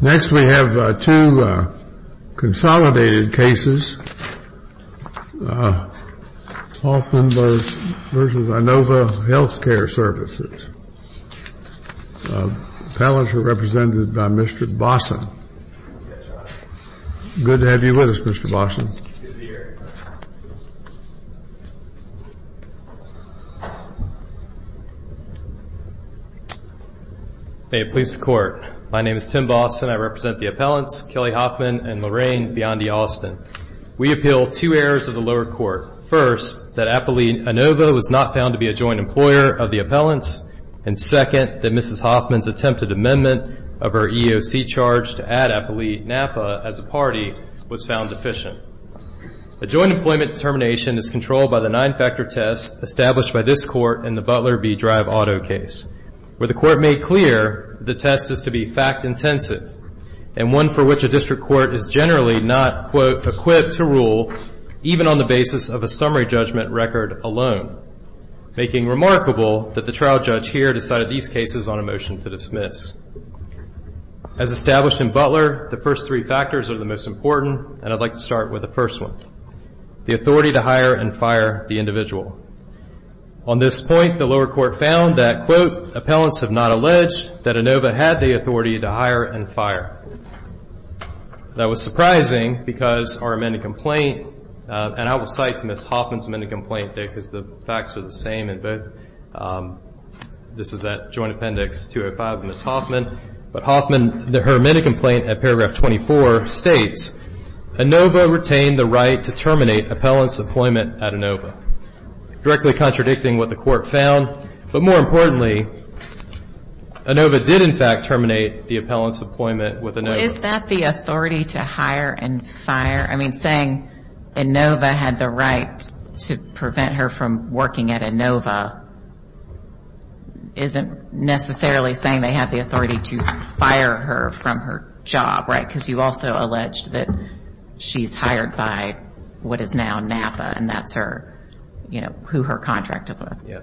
Next, we have two consolidated cases, Hoffman v. INOVA Health Care Services. The panelists are represented by Mr. Bossom. Good to have you with us, Mr. Bossom. Good to be here. May it please the Court. My name is Tim Bossom. I represent the appellants, Kelly Hoffman and Lorraine Biondi Austin. We appeal two errors of the lower court. First, that Apolline Inova was not found to be a joint employer of the appellants, and second, that Mrs. Hoffman's attempted amendment of her EOC charge to add Apolline Napa as a party was found deficient. A joint employment determination is controlled by the nine-factor test established by this Court in the Butler v. Drive Auto case, where the Court made clear the test is to be fact-intensive and one for which a district court is generally not, quote, equipped to rule even on the basis of a summary judgment record alone, making remarkable that the trial judge here decided these cases on a motion to dismiss. As established in Butler, the first three factors are the most important, and I'd like to start with the first one, the authority to hire and fire the individual. On this point, the lower court found that, quote, appellants have not alleged that Inova had the authority to hire and fire. That was surprising because our amended complaint, and I will cite to Mrs. Hoffman's amended complaint because the facts are the same in both. This is that joint appendix 205 of Mrs. Hoffman. But Hoffman, her amended complaint at paragraph 24 states, Inova retained the right to terminate appellant's employment at Inova, directly contradicting what the Court found, but more importantly, Inova did, in fact, terminate the appellant's employment with Inova. Is that the authority to hire and fire? I mean, saying Inova had the right to prevent her from working at Inova isn't necessarily saying they had the authority to fire her from her job, right? Because you also alleged that she's hired by what is now NAPA, and that's her, you know, who her contract is with. Yeah.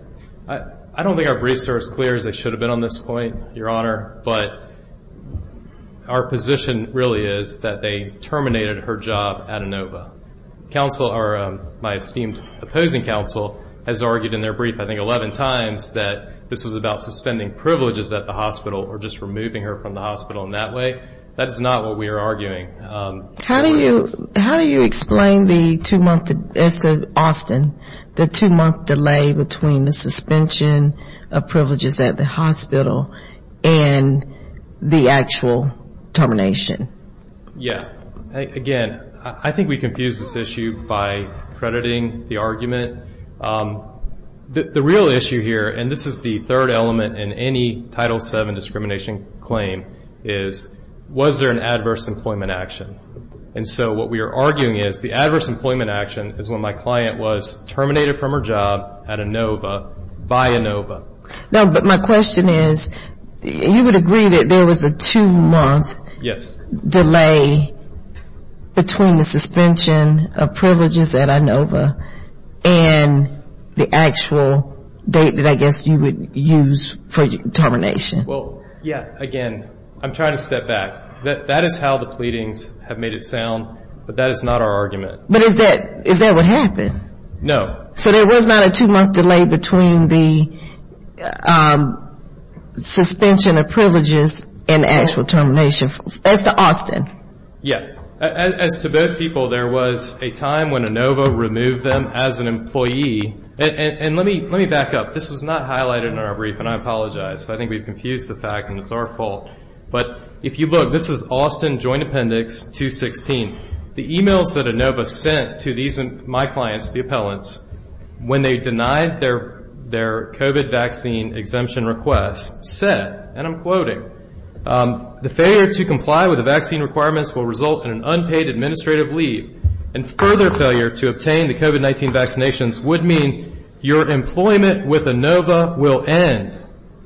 I don't think our briefs are as clear as they should have been on this point, Your Honor. But our position really is that they terminated her job at Inova. Counsel, or my esteemed opposing counsel, has argued in their brief I think 11 times that this was about suspending privileges at the hospital or just removing her from the hospital in that way. That is not what we are arguing. How do you explain the two-month delay between the suspension of privileges at the hospital and the actual termination? Again, I think we confuse this issue by crediting the argument. The real issue here, and this is the third element in any Title VII discrimination claim, is was there an adverse employment action? And so what we are arguing is the adverse employment action is when my client was terminated from her job at Inova by Inova. No, but my question is, you would agree that there was a two-month delay between the suspension of privileges at Inova and the actual date that I guess you would use for termination? Well, yeah, again, I'm trying to step back. That is how the pleadings have made it sound, but that is not our argument. But is that what happened? No. So there was not a two-month delay between the suspension of privileges and the actual termination. As to Austin. Yeah. As to both people, there was a time when Inova removed them as an employee. And let me back up. This was not highlighted in our brief, and I apologize. I think we've confused the fact, and it's our fault. But if you look, this is Austin Joint Appendix 216. The e-mails that Inova sent to my clients, the appellants, when they denied their COVID vaccine exemption request said, and I'm quoting, the failure to comply with the vaccine requirements will result in an unpaid administrative leave, and further failure to obtain the COVID-19 vaccinations would mean your employment with Inova will end.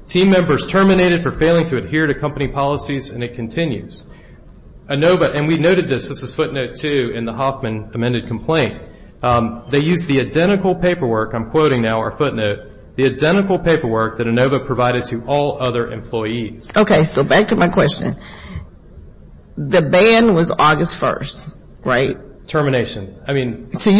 Team members terminated for failing to adhere to company policies, and it continues. Inova, and we noted this, this is footnote two in the Hoffman amended complaint, they used the identical paperwork, I'm quoting now our footnote, the identical paperwork that Inova provided to all other employees. Okay. So back to my question. The ban was August 1st, right? Termination. I mean. So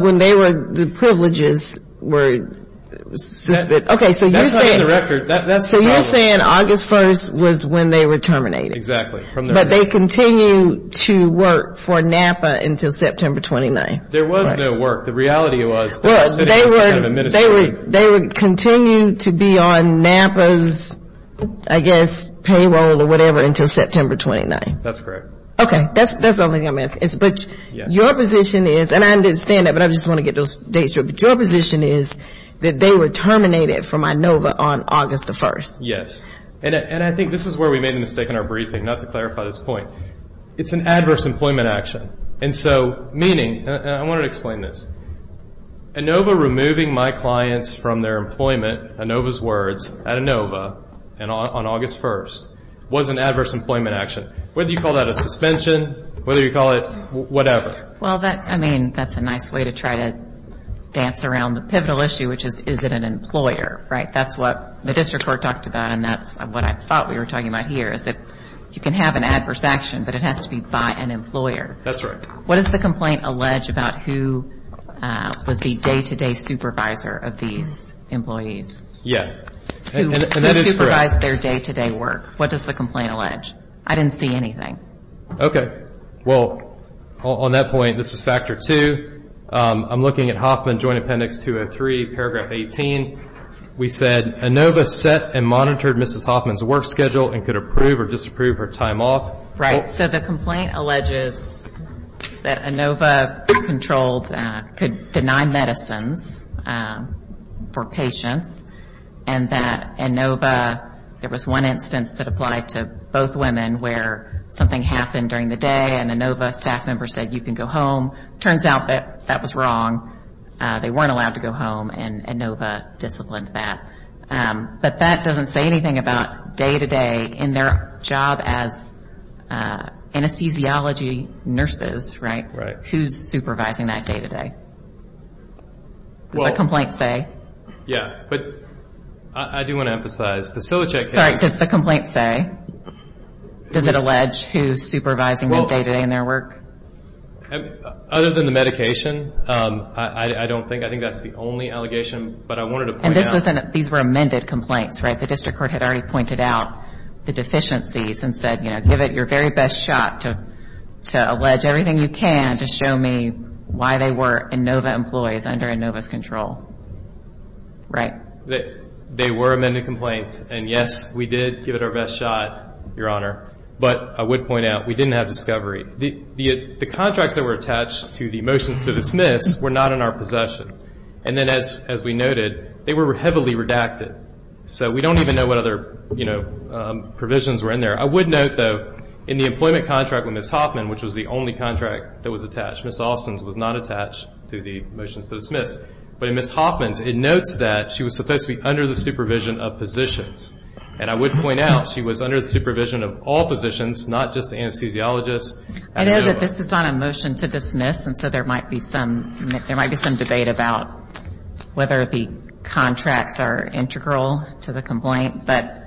when they were, the privileges were, okay, so you're saying. That's not in the record. So you're saying August 1st was when they were terminated. Exactly. But they continued to work for NAPA until September 29th. There was no work. The reality was. They would continue to be on NAPA's, I guess, payroll or whatever until September 29th. That's correct. Okay. That's the only thing I'm asking. But your position is, and I understand that, but I just want to get those dates right, but your position is that they were terminated from Inova on August 1st. Yes. And I think this is where we made a mistake in our briefing, not to clarify this point. It's an adverse employment action. And so meaning, and I want to explain this. Inova removing my clients from their employment, Inova's words, at Inova on August 1st, was an adverse employment action. Whether you call that a suspension, whether you call it whatever. Well, I mean, that's a nice way to try to dance around the pivotal issue, which is, is it an employer, right? That's what the district court talked about, and that's what I thought we were talking about here, is that you can have an adverse action, but it has to be by an employer. That's right. What does the complaint allege about who was the day-to-day supervisor of these employees? Yeah. Who supervised their day-to-day work? What does the complaint allege? I didn't see anything. Okay. Well, on that point, this is factor two. I'm looking at Hoffman Joint Appendix 203, paragraph 18. We said, Inova set and monitored Mrs. Hoffman's work schedule and could approve or disapprove her time off. Right. So the complaint alleges that Inova controlled, could deny medicines for patients, and that Inova, there was one instance that applied to both women where something happened during the day and Inova's staff member said, you can go home. It turns out that that was wrong. They weren't allowed to go home, and Inova disciplined that. But that doesn't say anything about day-to-day in their job as anesthesiology nurses, right? Right. Who's supervising that day-to-day? What does the complaint say? Yeah. But I do want to emphasize, the Psilocybe case. Sorry. What does the complaint say? Does it allege who's supervising that day-to-day in their work? Other than the medication, I don't think. I think that's the only allegation, but I wanted to point out. And these were amended complaints, right? The district court had already pointed out the deficiencies and said, you know, give it your very best shot to allege everything you can to show me why they were Inova employees under Inova's control. Right. They were amended complaints. And, yes, we did give it our best shot, Your Honor. But I would point out, we didn't have discovery. The contracts that were attached to the motions to dismiss were not in our possession. And then, as we noted, they were heavily redacted. So we don't even know what other, you know, provisions were in there. I would note, though, in the employment contract with Ms. Hoffman, which was the only contract that was attached, Ms. Austin's was not attached to the motions to dismiss. But in Ms. Hoffman's, it notes that she was supposed to be under the supervision of physicians. And I would point out, she was under the supervision of all physicians, not just anesthesiologists. I know that this was on a motion to dismiss, and so there might be some debate about whether the contracts are integral to the complaint. But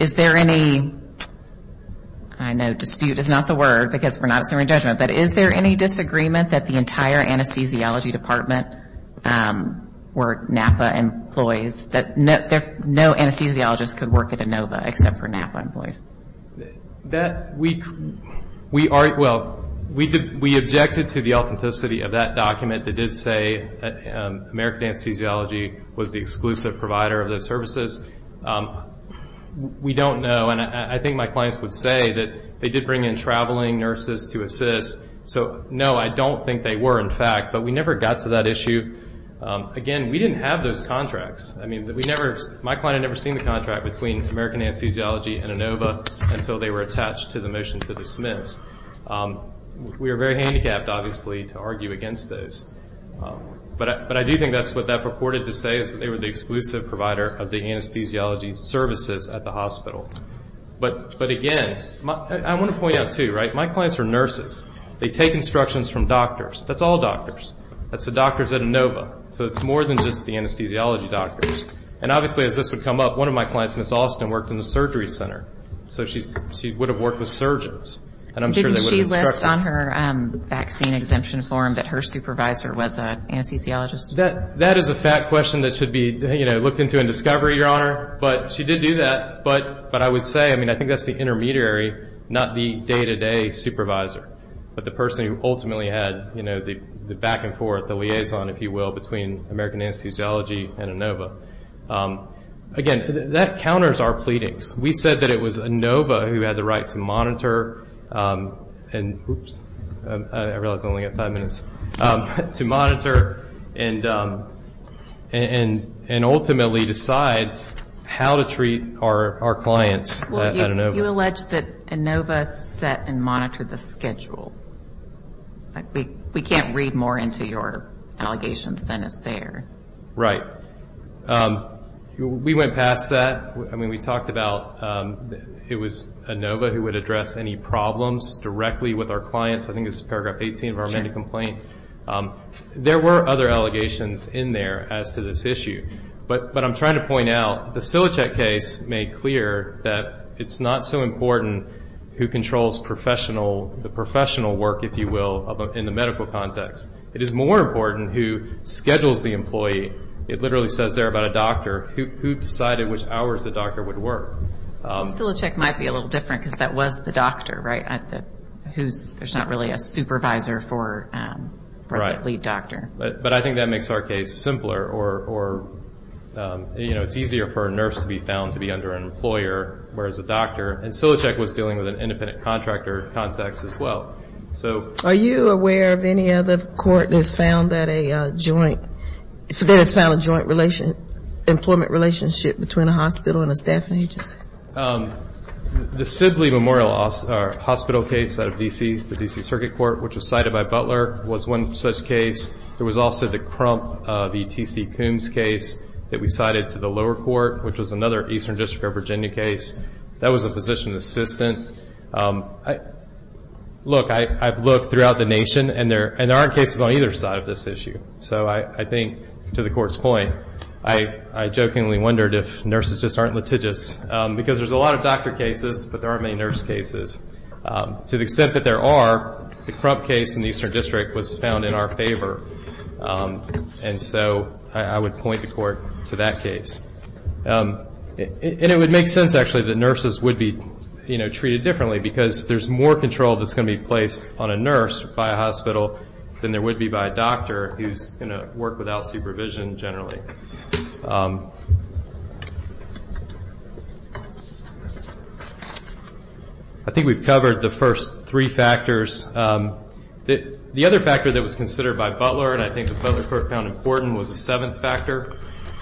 is there any, I know dispute is not the word because we're not assuming judgment, but is there any disagreement that the entire anesthesiology department were NAPA employees, that no anesthesiologist could work at Inova except for NAPA employees? That, we are, well, we objected to the authenticity of that document that did say that American Anesthesiology was the exclusive provider of those services. We don't know, and I think my clients would say that they did bring in traveling nurses to assist. So, no, I don't think they were, in fact, but we never got to that issue. Again, we didn't have those contracts. I mean, we never, my client had never seen the contract between American Anesthesiology and Inova until they were attached to the motion to dismiss. We were very handicapped, obviously, to argue against those. But I do think that's what that purported to say, is that they were the exclusive provider of the anesthesiology services at the hospital. But, again, I want to point out, too, right, my clients are nurses. They take instructions from doctors. That's all doctors. That's the doctors at Inova. So it's more than just the anesthesiology doctors. And, obviously, as this would come up, one of my clients, Ms. Austin, worked in the surgery center. So she would have worked with surgeons. Didn't she list on her vaccine exemption form that her supervisor was an anesthesiologist? That is a fact question that should be looked into in discovery, Your Honor. But she did do that. But I would say, I mean, I think that's the intermediary, not the day-to-day supervisor, but the person who ultimately had the back and forth, the liaison, if you will, between American Anesthesiology and Inova. Again, that counters our pleadings. We said that it was Inova who had the right to monitor and ultimately decide how to treat our clients at Inova. Well, you allege that Inova set and monitored the schedule. We can't read more into your allegations than is there. Right. We went past that. I mean, we talked about it was Inova who would address any problems directly with our clients. I think this is paragraph 18 of our mandate complaint. There were other allegations in there as to this issue. But I'm trying to point out the Silichek case made clear that it's not so important who controls professional, the professional work, if you will, in the medical context. It is more important who schedules the employee. It literally says there about a doctor who decided which hours the doctor would work. Silichek might be a little different because that was the doctor, right, who's not really a supervisor for the lead doctor. But I think that makes our case simpler or, you know, it's easier for a nurse to be found to be under an employer whereas a doctor. And Silichek was dealing with an independent contractor context as well. Are you aware of any other court that has found that a joint, that has found a joint employment relationship between a hospital and a staffing agency? The Sidley Memorial Hospital case out of D.C., the D.C. Circuit Court, which was cited by Butler, was one such case. There was also the Crump, the T.C. Coombs case that we cited to the lower court, which was another Eastern District of Virginia case. That was a physician assistant. Look, I've looked throughout the nation, and there aren't cases on either side of this issue. So I think, to the Court's point, I jokingly wondered if nurses just aren't litigious. Because there's a lot of doctor cases, but there aren't many nurse cases. To the extent that there are, the Crump case in the Eastern District was found in our favor. And so I would point the Court to that case. And it would make sense, actually, that nurses would be treated differently because there's more control that's going to be placed on a nurse by a hospital than there would be by a doctor who's going to work without supervision generally. I think we've covered the first three factors. The other factor that was considered by Butler, and I think the Butler Court found important, was the seventh factor,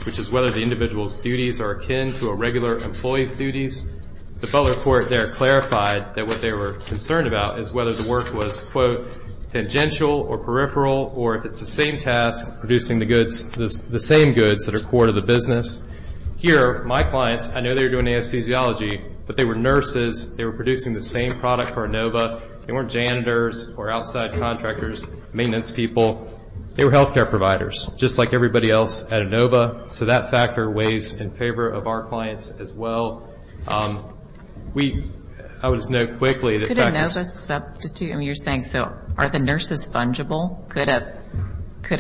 which is whether the individual's duties are akin to a regular employee's duties. The Butler Court there clarified that what they were concerned about is whether the work was, quote, tangential or peripheral, or if it's the same task, producing the goods, the same goods that are core to the business. Here, my clients, I know they were doing anesthesiology, but they were nurses. They were producing the same product for Inova. They weren't janitors or outside contractors, maintenance people. They were health care providers, just like everybody else at Inova. So that factor weighs in favor of our clients as well. We, I would just note quickly that factors. Could Inova substitute? I mean, you're saying, so are the nurses fungible? Could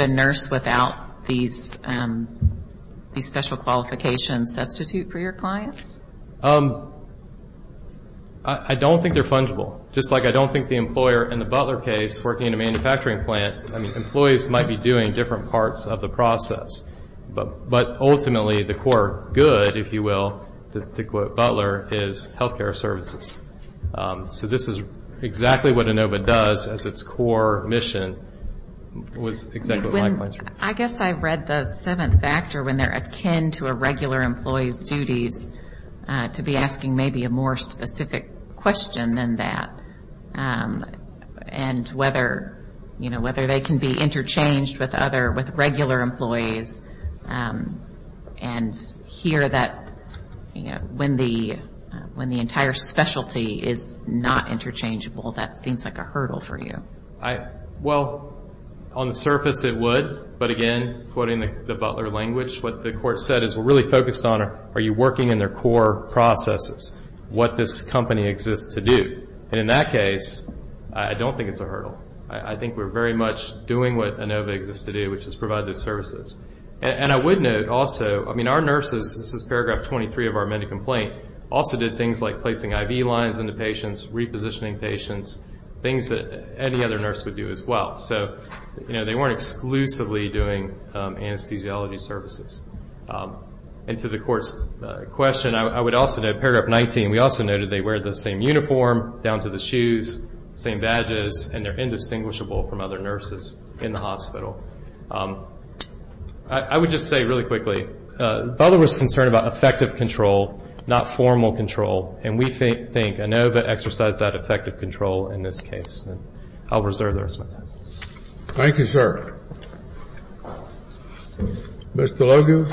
a nurse without these special qualifications substitute for your clients? I don't think they're fungible. Just like I don't think the employer in the Butler case working in a manufacturing plant, I mean, employees might be doing different parts of the process. But ultimately, the core good, if you will, to quote Butler, is health care services. So this is exactly what Inova does as its core mission was exactly what my clients were doing. I guess I read the seventh factor when they're akin to a regular employee's duties to be asking maybe a more specific question than that. And whether, you know, whether they can be interchanged with regular employees and hear that when the entire specialty is not interchangeable, that seems like a hurdle for you. Well, on the surface it would, but again, quoting the Butler language, what the court said is we're really focused on are you working in their core processes, what this company exists to do. And in that case, I don't think it's a hurdle. I think we're very much doing what Inova exists to do, which is provide those services. And I would note also, I mean, our nurses, this is paragraph 23 of our MEDIC complaint, also did things like placing IV lines into patients, repositioning patients, things that any other nurse would do as well. So, you know, they weren't exclusively doing anesthesiology services. And to the court's question, I would also note paragraph 19, we also noted they wear the same uniform down to the shoes, same badges, and they're indistinguishable from other nurses in the hospital. I would just say really quickly, Butler was concerned about effective control, not formal control. And we think Inova exercised that effective control in this case. And I'll reserve the rest of my time. Thank you, sir. Ms. DeLogue?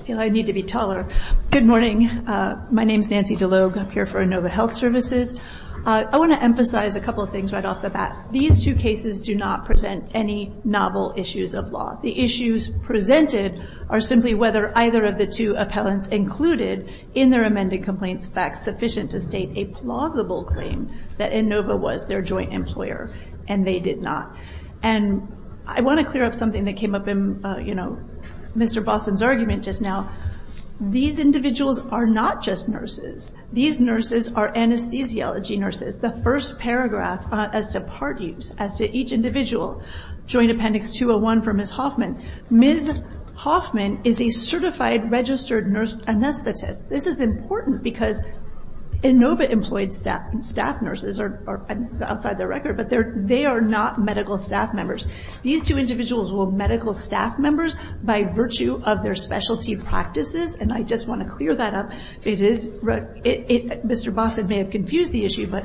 I feel I need to be taller. Good morning. My name is Nancy DeLogue. I'm here for Inova Health Services. I want to emphasize a couple of things right off the bat. These two cases do not present any novel issues of law. The issues presented are simply whether either of the two appellants included in their amended complaints facts sufficient to state a plausible claim that Inova was their joint employer, and they did not. And I want to clear up something that came up in, you know, Mr. Boston's argument just now. These individuals are not just nurses. These nurses are anesthesiology nurses. The first paragraph as to part use, as to each individual, Joint Appendix 201 for Ms. Hoffman. Ms. Hoffman is a certified registered nurse anesthetist. This is important because Inova-employed staff nurses are outside their record, but they are not medical staff members. These two individuals were medical staff members by virtue of their specialty practices, and I just want to clear that up. Mr. Boston may have confused the issue, but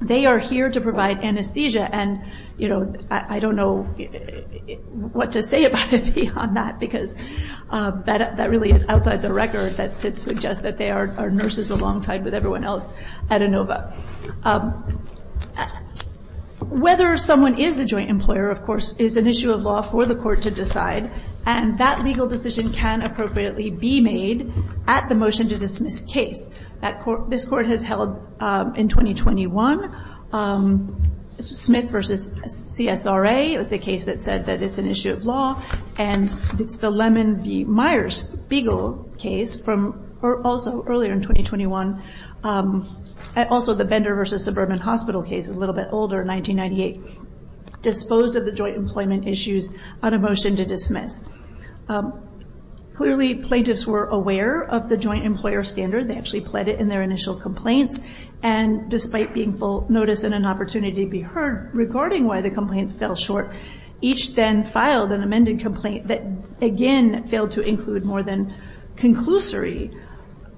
they are here to provide anesthesia, and, you know, I don't know what to say about it beyond that because that really is outside the record to suggest that they are nurses alongside with everyone else at Inova. Whether someone is a joint employer, of course, is an issue of law for the court to decide, and that legal decision can appropriately be made at the motion to dismiss case that this court has held in 2021. It's Smith v. CSRA. It was the case that said that it's an issue of law, and it's the Lemon v. Myers Beagle case from also earlier in 2021, and also the Bender v. Suburban Hospital case, a little bit older, 1998, disposed of the joint employment issues on a motion to dismiss. Clearly, plaintiffs were aware of the joint employer standard. They actually pled it in their initial complaints, and despite being full notice and an opportunity to be heard regarding why the complaints fell short, each then filed an amended complaint that, again, failed to include more than conclusory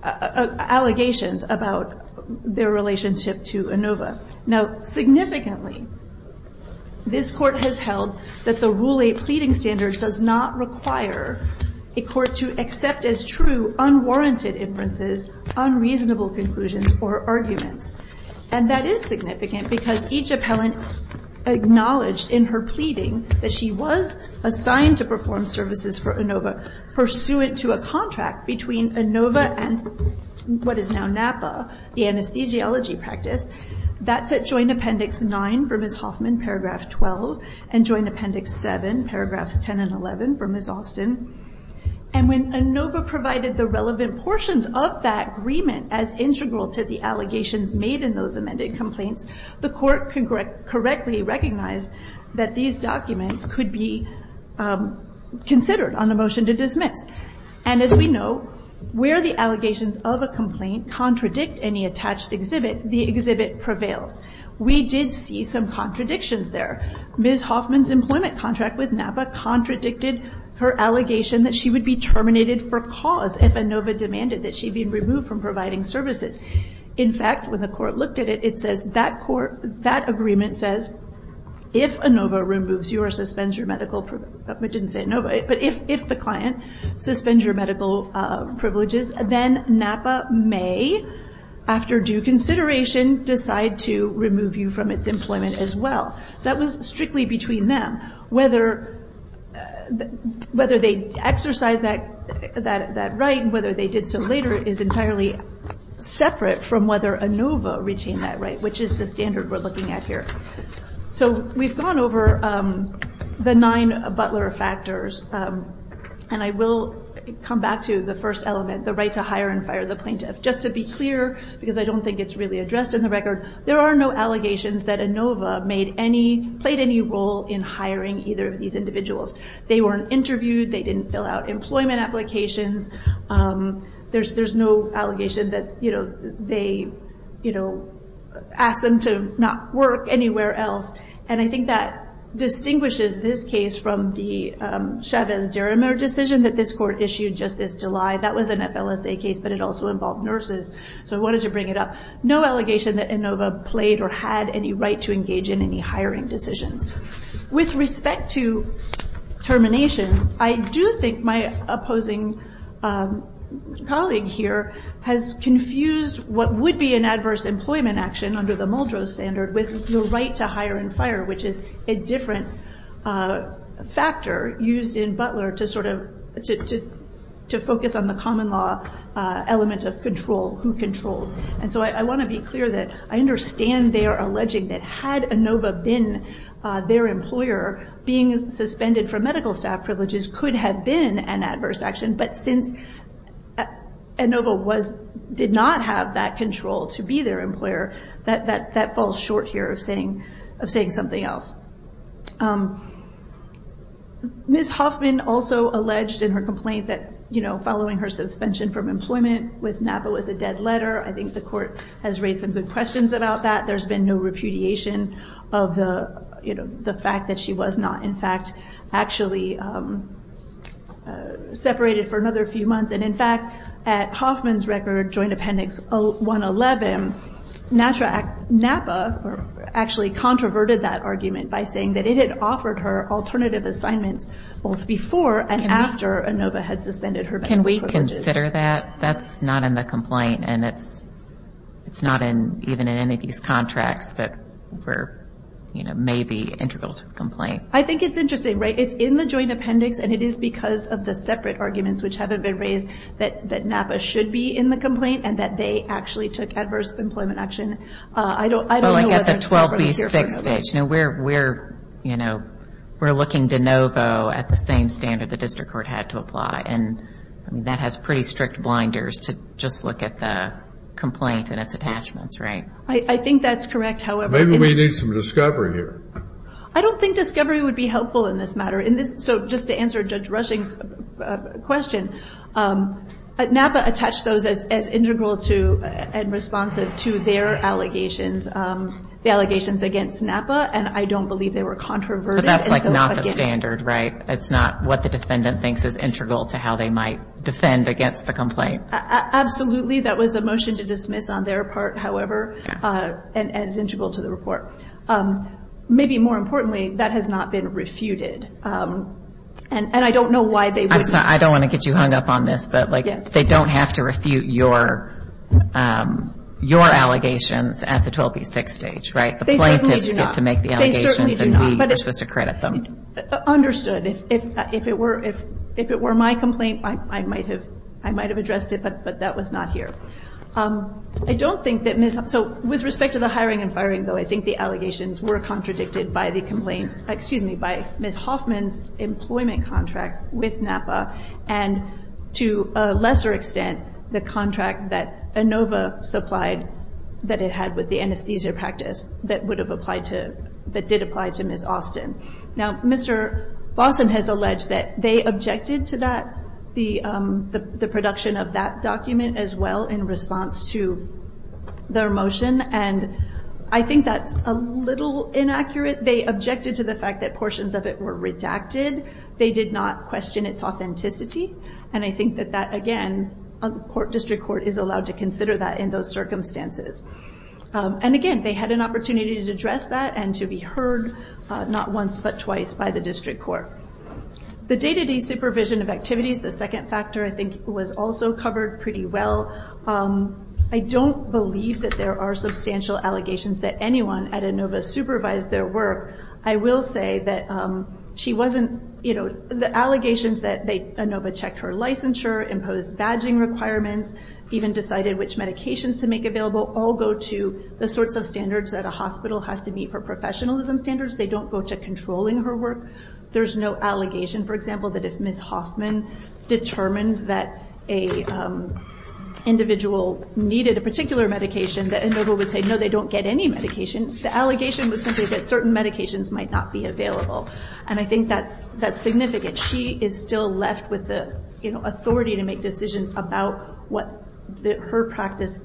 allegations about their relationship to Inova. Now, significantly, this court has held that the Rule 8 pleading standard does not require a court to accept as true unwarranted inferences, unreasonable conclusions, or arguments, and that is significant because each appellant acknowledged in her pleading that she was assigned to perform services for Inova pursuant to a contract between Inova and what is now NAPA, the anesthesiology practice. That's at Joint Appendix 9 for Ms. Hoffman, Paragraph 12, and Joint Appendix 7, Paragraphs 10 and 11, for Ms. Austin. And when Inova provided the relevant portions of that agreement as integral to the allegations made in those amended complaints, the court correctly recognized that these documents could be considered on a motion to dismiss. And as we know, where the allegations of a complaint contradict any attached exhibit, the exhibit prevails. We did see some contradictions there. Ms. Hoffman's employment contract with NAPA contradicted her allegation that she would be terminated for cause if Inova demanded that she be removed from providing services. In fact, when the court looked at it, it says that court, that agreement says, if Inova removes your, suspends your medical, I didn't say Inova, but if the client suspends your medical privileges, then NAPA may, after due consideration, decide to remove you from its employment as well. That was strictly between them. Whether they exercised that right and whether they did so later is entirely separate from whether Inova retained that right, which is the standard we're looking at here. So we've gone over the nine Butler factors. And I will come back to the first element, the right to hire and fire the plaintiff. Just to be clear, because I don't think it's really addressed in the record, there are no allegations that Inova made any, played any role in hiring either of these individuals. They weren't interviewed. They didn't fill out employment applications. There's no allegation that, you know, they, you know, asked them to not work anywhere else. And I think that distinguishes this case from the Chavez-Derrimer decision that this court issued just this July. That was an FLSA case, but it also involved nurses. So I wanted to bring it up. No allegation that Inova played or had any right to engage in any hiring decisions. With respect to terminations, I do think my opposing colleague here has confused what would be an adverse employment action under the Muldrow standard with the right to hire and fire, which is a different factor used in Butler to sort of, to focus on the common law element of control, who controlled. And so I want to be clear that I understand they are alleging that had Inova been their employer, being suspended for medical staff privileges could have been an adverse action. But since Inova was, did not have that control to be their employer, that falls short here of saying, of saying something else. Ms. Hoffman also alleged in her complaint that, you know, following her suspension from employment with NAPA was a dead letter. I think the court has raised some good questions about that. There's been no repudiation of the, you know, the fact that she was not, in fact, actually separated for another few months. And, in fact, at Hoffman's record, Joint Appendix 111, NAPA actually controverted that argument by saying that it had offered her alternative assignments both before and after Inova had suspended her medical privileges. I consider that that's not in the complaint, and it's not in, even in any of these contracts that were, you know, maybe integral to the complaint. I think it's interesting, right? It's in the Joint Appendix, and it is because of the separate arguments which haven't been raised, that NAPA should be in the complaint and that they actually took adverse employment action. I don't know whether it's here for Inova. Well, I get the 12B6 stage. You know, we're, you know, we're looking to Inova at the same standard the district court had to apply. And, I mean, that has pretty strict blinders to just look at the complaint and its attachments, right? I think that's correct, however. Maybe we need some discovery here. I don't think discovery would be helpful in this matter. In this, so just to answer Judge Rushing's question, NAPA attached those as integral to and responsive to their allegations, the allegations against NAPA, and I don't believe they were controverted. But that's, like, not the standard, right? It's not what the defendant thinks is integral to how they might defend against the complaint. That was a motion to dismiss on their part, however, and it's integral to the report. Maybe more importantly, that has not been refuted. And I don't know why they wouldn't. I don't want to get you hung up on this, but, like, they don't have to refute your allegations at the 12B6 stage, right? They certainly do not. The plaintiffs get to make the allegations, and we are supposed to credit them. Understood. If it were my complaint, I might have addressed it, but that was not here. I don't think that Ms. Hoffman, so with respect to the hiring and firing, though, I think the allegations were contradicted by the complaint, excuse me, by Ms. Hoffman's employment contract with NAPA and, to a lesser extent, the contract that ANOVA supplied that it had with the anesthesia practice that would have applied to, that did apply to Ms. Austin. Now, Mr. Bossen has alleged that they objected to that, the production of that document as well, in response to their motion, and I think that's a little inaccurate. They objected to the fact that portions of it were redacted. They did not question its authenticity, and I think that that, again, a district court is allowed to consider that in those circumstances. And, again, they had an opportunity to address that and to be heard not once but twice by the district court. The day-to-day supervision of activities, the second factor, I think, was also covered pretty well. I don't believe that there are substantial allegations that anyone at ANOVA supervised their work. I will say that she wasn't, you know, the allegations that ANOVA checked her licensure, imposed badging requirements, even decided which medications to make available all go to the sorts of standards that a hospital has to meet for professionalism standards. They don't go to controlling her work. There's no allegation, for example, that if Ms. Hoffman determined that an individual needed a particular medication, that ANOVA would say, no, they don't get any medication. The allegation was simply that certain medications might not be available, and I think that's significant. She is still left with the, you know, authority to make decisions about what her practice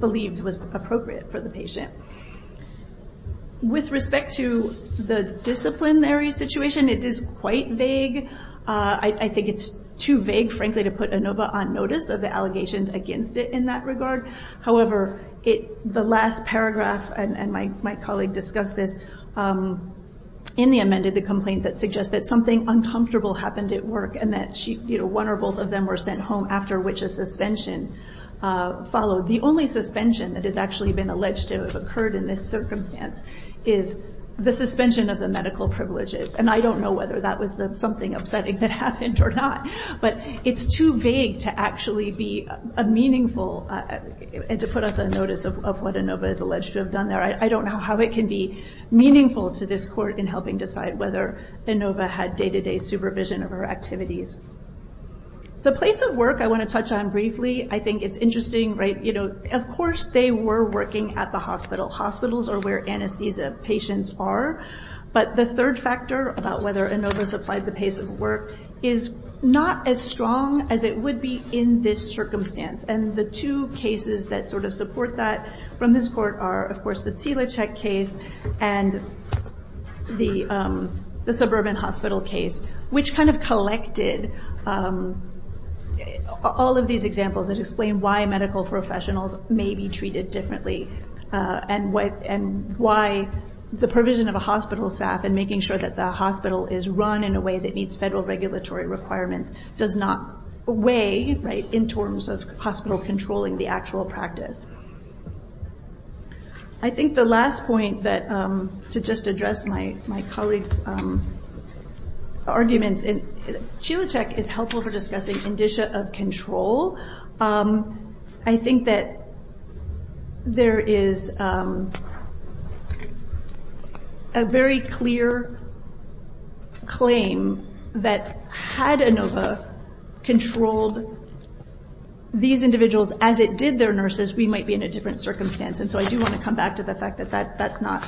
believed was appropriate for the patient. With respect to the disciplinary situation, it is quite vague. I think it's too vague, frankly, to put ANOVA on notice of the allegations against it in that regard. However, the last paragraph, and my colleague discussed this in the amended complaint that suggests that something uncomfortable happened at work and that one or both of them were sent home, after which a suspension followed. The only suspension that has actually been alleged to have occurred in this circumstance is the suspension of the medical privileges, and I don't know whether that was something upsetting that happened or not. But it's too vague to actually be meaningful and to put us on notice of what ANOVA is alleged to have done there. I don't know how it can be meaningful to this court in helping decide whether ANOVA had day-to-day supervision of her activities. The place of work I want to touch on briefly. I think it's interesting, right, you know, of course they were working at the hospital. Hospitals are where anesthesia patients are. But the third factor about whether ANOVA supplied the place of work is not as strong as it would be in this circumstance, and the two cases that sort of support that from this court are, of course, the Tsilochek case and the suburban hospital case, which kind of collected all of these examples that explain why medical professionals may be treated differently and why the provision of a hospital staff and making sure that the hospital is run in a way that meets federal regulatory requirements does not weigh, right, in terms of hospital controlling the actual practice. I think the last point that, to just address my colleague's arguments, Tsilochek is helpful for discussing indicia of control. I think that there is a very clear claim that had ANOVA controlled these individuals as it did their nurses, we might be in a different circumstance. And so I do want to come back to the fact that that's not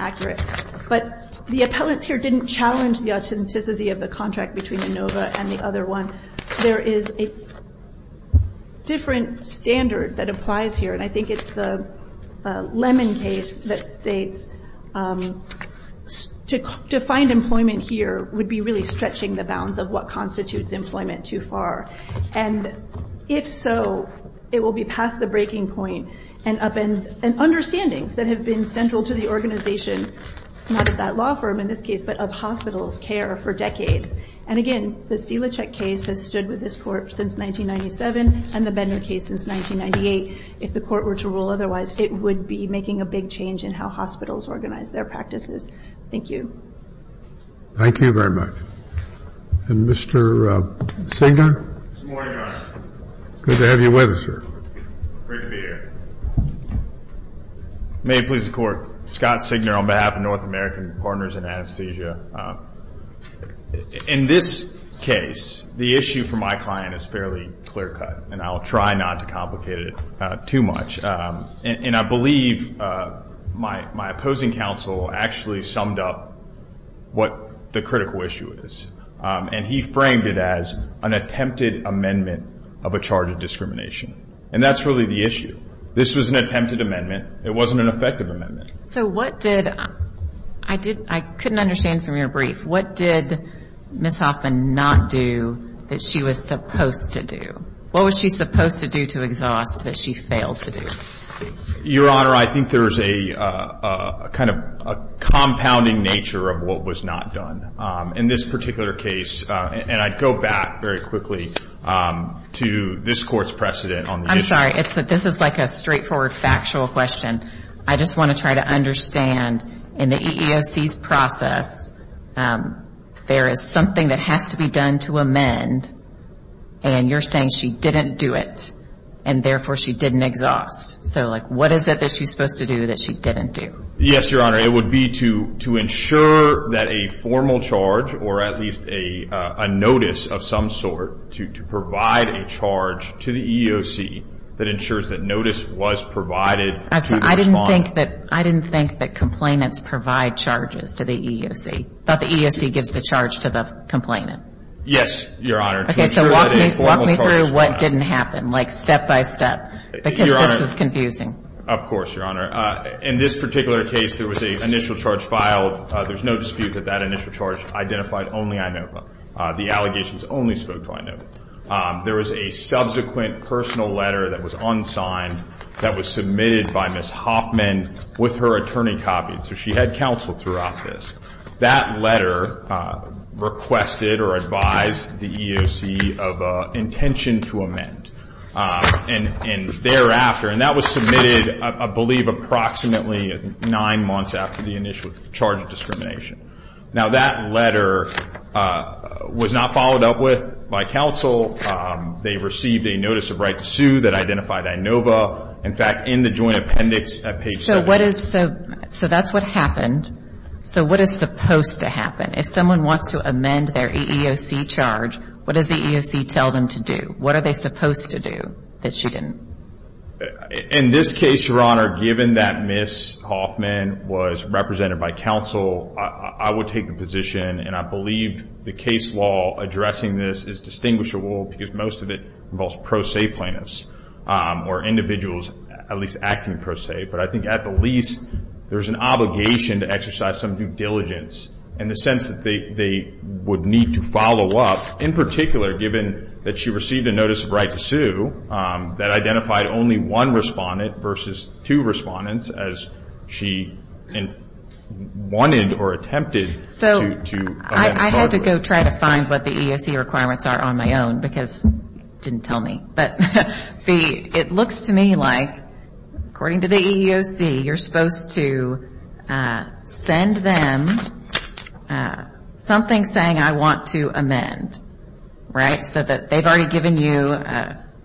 accurate. But the appellants here didn't challenge the authenticity of the contract between ANOVA and the other one. There is a different standard that applies here, and I think it's the Lemon case that states to find employment here would be really stretching the bounds of what constitutes employment too far. And if so, it will be past the breaking point. And understandings that have been central to the organization, not at that law firm in this case, but of hospitals' care for decades. And again, the Tsilochek case has stood with this Court since 1997 and the Bender case since 1998. If the Court were to rule otherwise, it would be making a big change in how hospitals organize their practices. Thank you. Thank you very much. And Mr. Singer? Good morning, Your Honor. Good to have you with us, sir. Great to be here. May it please the Court. Scott Singer on behalf of North American Partners in Anesthesia. In this case, the issue for my client is fairly clear cut, and I'll try not to complicate it too much. And I believe my opposing counsel actually summed up what the critical issue is, and he framed it as an attempted amendment of a charge of discrimination. And that's really the issue. This was an attempted amendment. It wasn't an effective amendment. So what did – I couldn't understand from your brief. What did Ms. Hoffman not do that she was supposed to do? What was she supposed to do to exhaust that she failed to do? Your Honor, I think there is a kind of compounding nature of what was not done. In this particular case, and I'd go back very quickly to this Court's precedent on the issue. I'm sorry. This is like a straightforward factual question. I just want to try to understand in the EEOC's process, there is something that has to be done to amend, and you're saying she didn't do it, and therefore she didn't exhaust. So, like, what is it that she's supposed to do that she didn't do? Yes, Your Honor. It would be to ensure that a formal charge, or at least a notice of some sort, to provide a charge to the EEOC that ensures that notice was provided to the respondent. I didn't think that complainants provide charges to the EEOC. I thought the EEOC gives the charge to the complainant. Yes, Your Honor. Okay, so walk me through what didn't happen, like step by step, because this is confusing. Of course, Your Honor. In this particular case, there was an initial charge filed. There's no dispute that that initial charge identified only INOVA. The allegations only spoke to INOVA. There was a subsequent personal letter that was unsigned that was submitted by Ms. Hoffman with her attorney copied. So she had counsel throughout this. That letter requested or advised the EEOC of intention to amend. And thereafter, and that was submitted, I believe, approximately nine months after the initial charge of discrimination. Now, that letter was not followed up with by counsel. They received a notice of right to sue that identified INOVA. In fact, in the joint appendix at page 7. So that's what happened. So what is supposed to happen? If someone wants to amend their EEOC charge, what does the EEOC tell them to do? What are they supposed to do that she didn't? In this case, Your Honor, given that Ms. Hoffman was represented by counsel, I would take the position, and I believe the case law addressing this is distinguishable because most of it involves pro se plaintiffs or individuals at least acting pro se. But I think at the least, there's an obligation to exercise some due diligence in the sense that they would need to follow up. In particular, given that she received a notice of right to sue, that identified only one respondent versus two respondents as she wanted or attempted to amend. So I had to go try to find what the EEOC requirements are on my own because it didn't tell me. But it looks to me like, according to the EEOC, you're supposed to send them something saying, I want to amend, right, so that they've already given you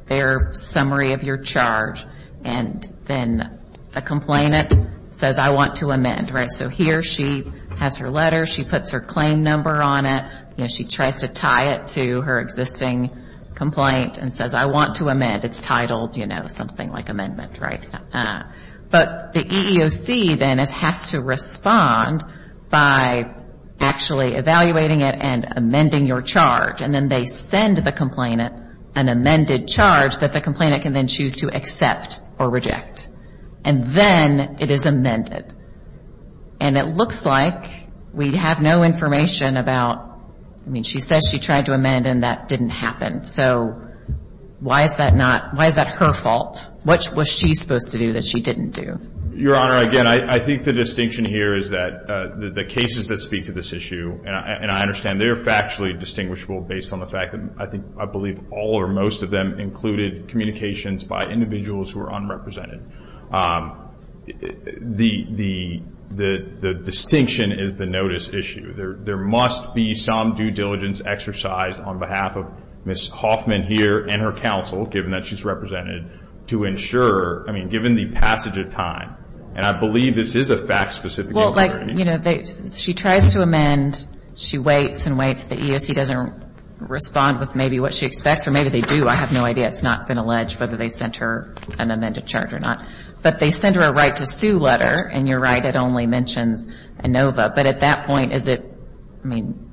their summary of your charge. And then the complainant says, I want to amend. So here she has her letter. She puts her claim number on it. She tries to tie it to her existing complaint and says, I want to amend. It's titled something like amendment. But the EEOC then has to respond by actually evaluating it and amending your charge. And then they send the complainant an amended charge that the complainant can then choose to accept or reject. And then it is amended. And it looks like we have no information about, I mean, she says she tried to amend and that didn't happen. So why is that not, why is that her fault? What was she supposed to do that she didn't do? Your Honor, again, I think the distinction here is that the cases that speak to this issue, and I understand they're factually distinguishable based on the fact that I believe all or most of them included communications by individuals who are unrepresented. The distinction is the notice issue. There must be some due diligence exercised on behalf of Ms. Hoffman here and her counsel, given that she's represented, to ensure, I mean, given the passage of time. And I believe this is a fact-specific inquiry. Well, like, you know, she tries to amend. She waits and waits. The EEOC doesn't respond with maybe what she expects, or maybe they do. I have no idea. It's not been alleged whether they sent her an amended charge or not. But they send her a right to sue letter, and you're right, it only mentions ANOVA. But at that point, is it, I mean,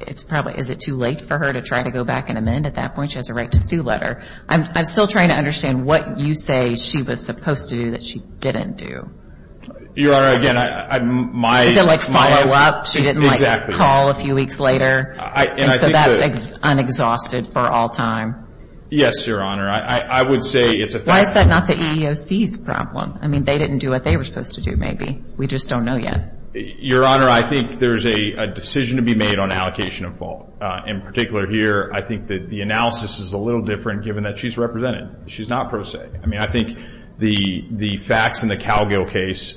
it's probably, is it too late for her to try to go back and amend at that point? She has a right to sue letter. I'm still trying to understand what you say she was supposed to do that she didn't do. Your Honor, again, I'm, my. Is it, like, follow up? Exactly. She didn't, like, call a few weeks later. And so that's unexhausted for all time. Yes, Your Honor. I would say it's a fact. Why is that not the EEOC's problem? I mean, they didn't do what they were supposed to do, maybe. We just don't know yet. Your Honor, I think there's a decision to be made on allocation of fault. In particular here, I think that the analysis is a little different given that she's represented. She's not pro se. I mean, I think the facts in the Calgill case,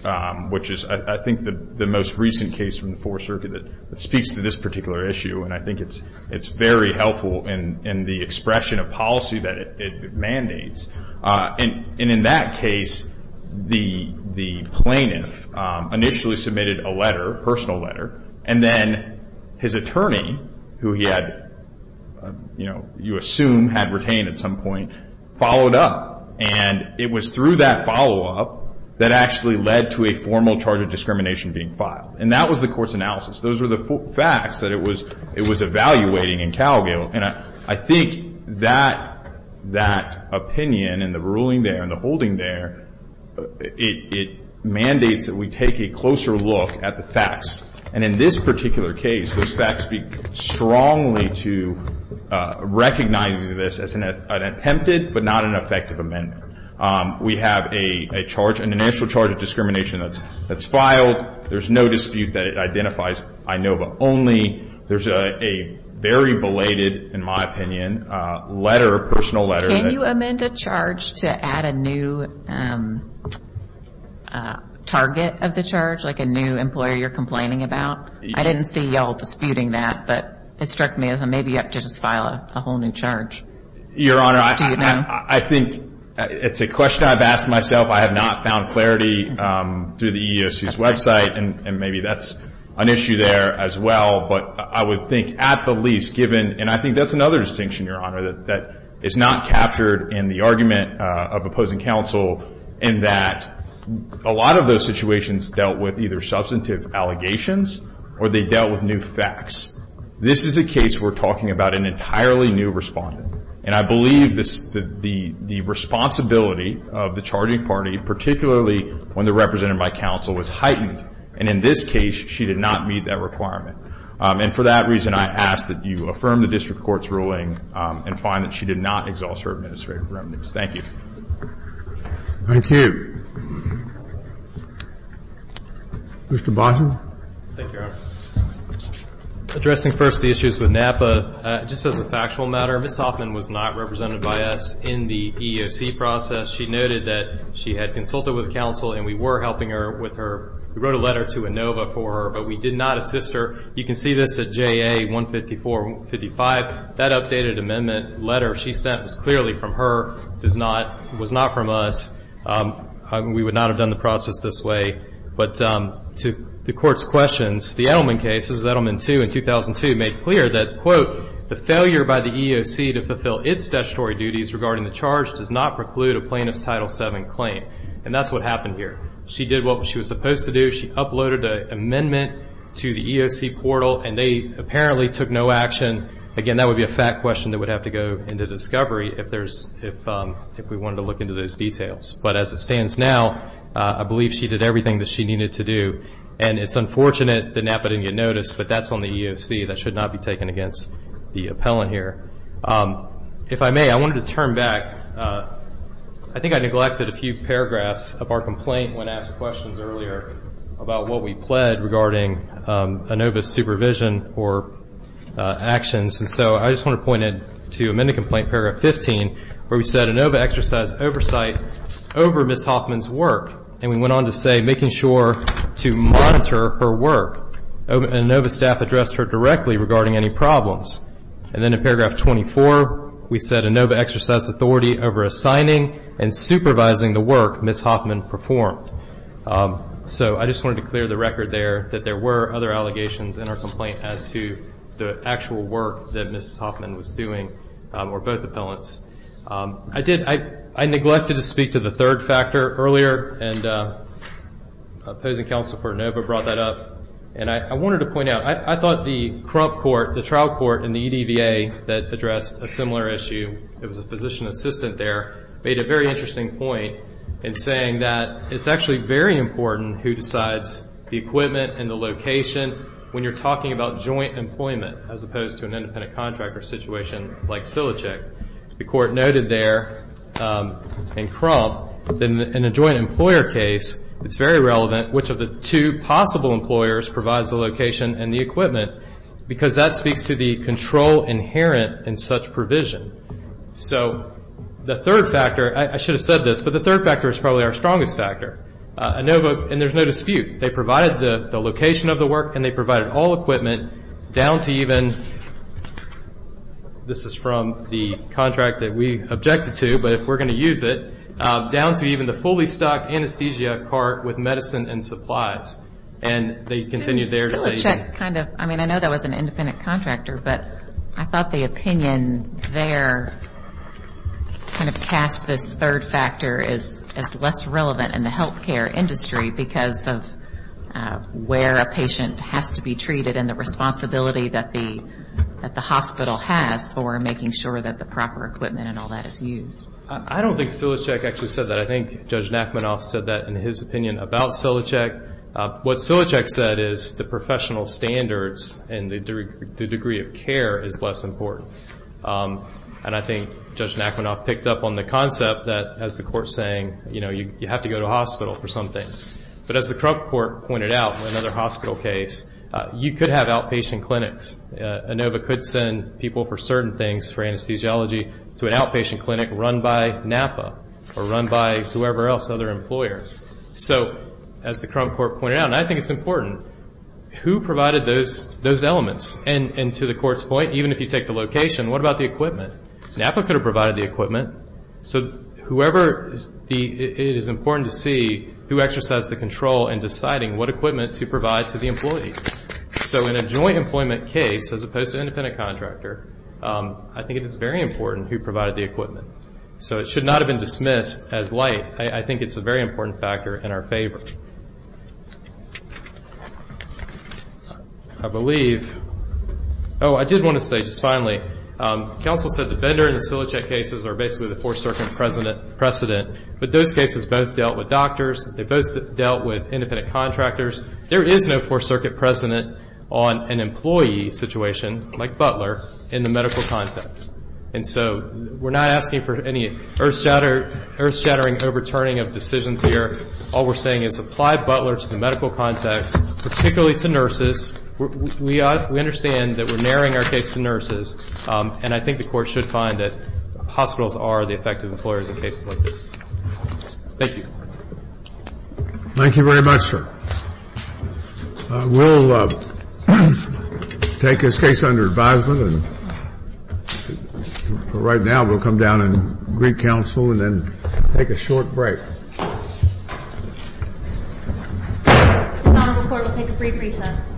which is I think the most recent case from the Fourth Circuit that speaks to this particular issue, and I think it's very helpful in the expression of policy that it mandates. And in that case, the plaintiff initially submitted a letter, personal letter, and then his attorney, who he had, you know, you assume had retained at some point, followed up. And it was through that follow-up that actually led to a formal charge of discrimination being filed. And that was the court's analysis. Those were the facts that it was evaluating in Calgill. And I think that opinion and the ruling there and the holding there, it mandates that we take a closer look at the facts. And in this particular case, those facts speak strongly to recognizing this as an attempted but not an effective amendment. We have a charge, an initial charge of discrimination that's filed. There's no dispute that it identifies INOVA only. There's a very belated, in my opinion, letter, personal letter. Can you amend a charge to add a new target of the charge, like a new employer you're complaining about? I didn't see you all disputing that, but it struck me as maybe you have to just file a whole new charge. Your Honor, I think it's a question I've asked myself. I have not found clarity through the EEOC's website, and maybe that's an issue there as well. But I would think at the least, given, and I think that's another distinction, Your Honor, that is not captured in the argument of opposing counsel, in that a lot of those situations dealt with either substantive allegations or they dealt with new facts. This is a case we're talking about an entirely new respondent. And I believe the responsibility of the charging party, particularly when they're represented by counsel, was heightened. And in this case, she did not meet that requirement. And for that reason, I ask that you affirm the district court's ruling and find that she did not exhaust her administrative remedies. Thank you. Thank you. Mr. Botkin. Thank you, Your Honor. Addressing first the issues with NAPA, just as a factual matter, Ms. Hoffman was not represented by us in the EEOC process. She noted that she had consulted with counsel and we were helping her with her ‑‑ we wrote a letter to ANOVA for her, but we did not assist her. You can see this at JA 15455. That updated amendment letter she sent was clearly from her, was not from us. We would not have done the process this way. But to the Court's questions, the Edelman case, this is Edelman 2 in 2002, made clear that, quote, the failure by the EEOC to fulfill its statutory duties regarding the charge does not preclude a plaintiff's Title VII claim. And that's what happened here. She did what she was supposed to do. She uploaded an amendment to the EEOC portal, and they apparently took no action. Again, that would be a fact question that would have to go into discovery if we wanted to look into those details. But as it stands now, I believe she did everything that she needed to do. And it's unfortunate that NAPA didn't get noticed, but that's on the EEOC. That should not be taken against the appellant here. If I may, I wanted to turn back. I think I neglected a few paragraphs of our complaint when asked questions earlier about what we pled regarding ANOVA's supervision or actions. And so I just want to point it to amendment complaint paragraph 15, where we said, ANOVA exercised oversight over Ms. Hoffman's work. And we went on to say making sure to monitor her work. ANOVA staff addressed her directly regarding any problems. And then in paragraph 24, we said ANOVA exercised authority over assigning and supervising the work Ms. Hoffman performed. So I just wanted to clear the record there that there were other allegations in our complaint as to the actual work that Ms. Hoffman was doing, or both appellants. I did, I neglected to speak to the third factor earlier, and opposing counsel for ANOVA brought that up. And I wanted to point out, I thought the corrupt court, the trial court in the EDVA that addressed a similar issue, it was a physician assistant there, made a very interesting point in saying that it's actually very important who decides the equipment and the location when you're talking about joint employment, as opposed to an independent contractor situation like Silichek. The court noted there in Crump, in a joint employer case, it's very relevant which of the two possible employers provides the location and the equipment, because that speaks to the control inherent in such provision. So the third factor, I should have said this, but the third factor is probably our strongest factor. ANOVA, and there's no dispute, they provided the location of the work, and they provided all equipment down to even, this is from the contract that we objected to, but if we're going to use it, down to even the fully stocked anesthesia cart with medicine and supplies. And they continued there to say. Silichek kind of, I mean, I know that was an independent contractor, but I thought the opinion there kind of cast this third factor as less relevant in the healthcare industry because of where a patient has to be treated and the responsibility that the hospital has for making sure that the proper equipment and all that is used. I don't think Silichek actually said that. I think Judge Nachmanoff said that in his opinion about Silichek. What Silichek said is the professional standards and the degree of care is less important. And I think Judge Nachmanoff picked up on the concept that, as the Court's saying, you know, you have to go to a hospital for some things. But as the Crump Court pointed out in another hospital case, you could have outpatient clinics. ANOVA could send people for certain things for anesthesiology to an outpatient clinic run by NAPA or run by whoever else, other employers. So as the Crump Court pointed out, and I think it's important, who provided those elements? And to the Court's point, even if you take the location, what about the equipment? NAPA could have provided the equipment. So whoever, it is important to see who exercised the control in deciding what equipment to provide to the employee. So in a joint employment case, as opposed to an independent contractor, I think it is very important who provided the equipment. So it should not have been dismissed as light. I think it's a very important factor in our favor. I believe, oh, I did want to say just finally, counsel said the Bender and the Silichek cases are basically the Fourth Circuit precedent. But those cases both dealt with doctors. They both dealt with independent contractors. There is no Fourth Circuit precedent on an employee situation like Butler in the medical context. And so we're not asking for any earth-shattering overturning of decisions here. All we're saying is apply Butler to the medical context, particularly to nurses. We understand that we're narrowing our case to nurses. And I think the Court should find that hospitals are the effective employers in cases like this. Thank you. Thank you very much, sir. We'll take this case under advisement. And for right now, we'll come down and greet counsel and then take a short break. The Honorable Court will take a brief recess.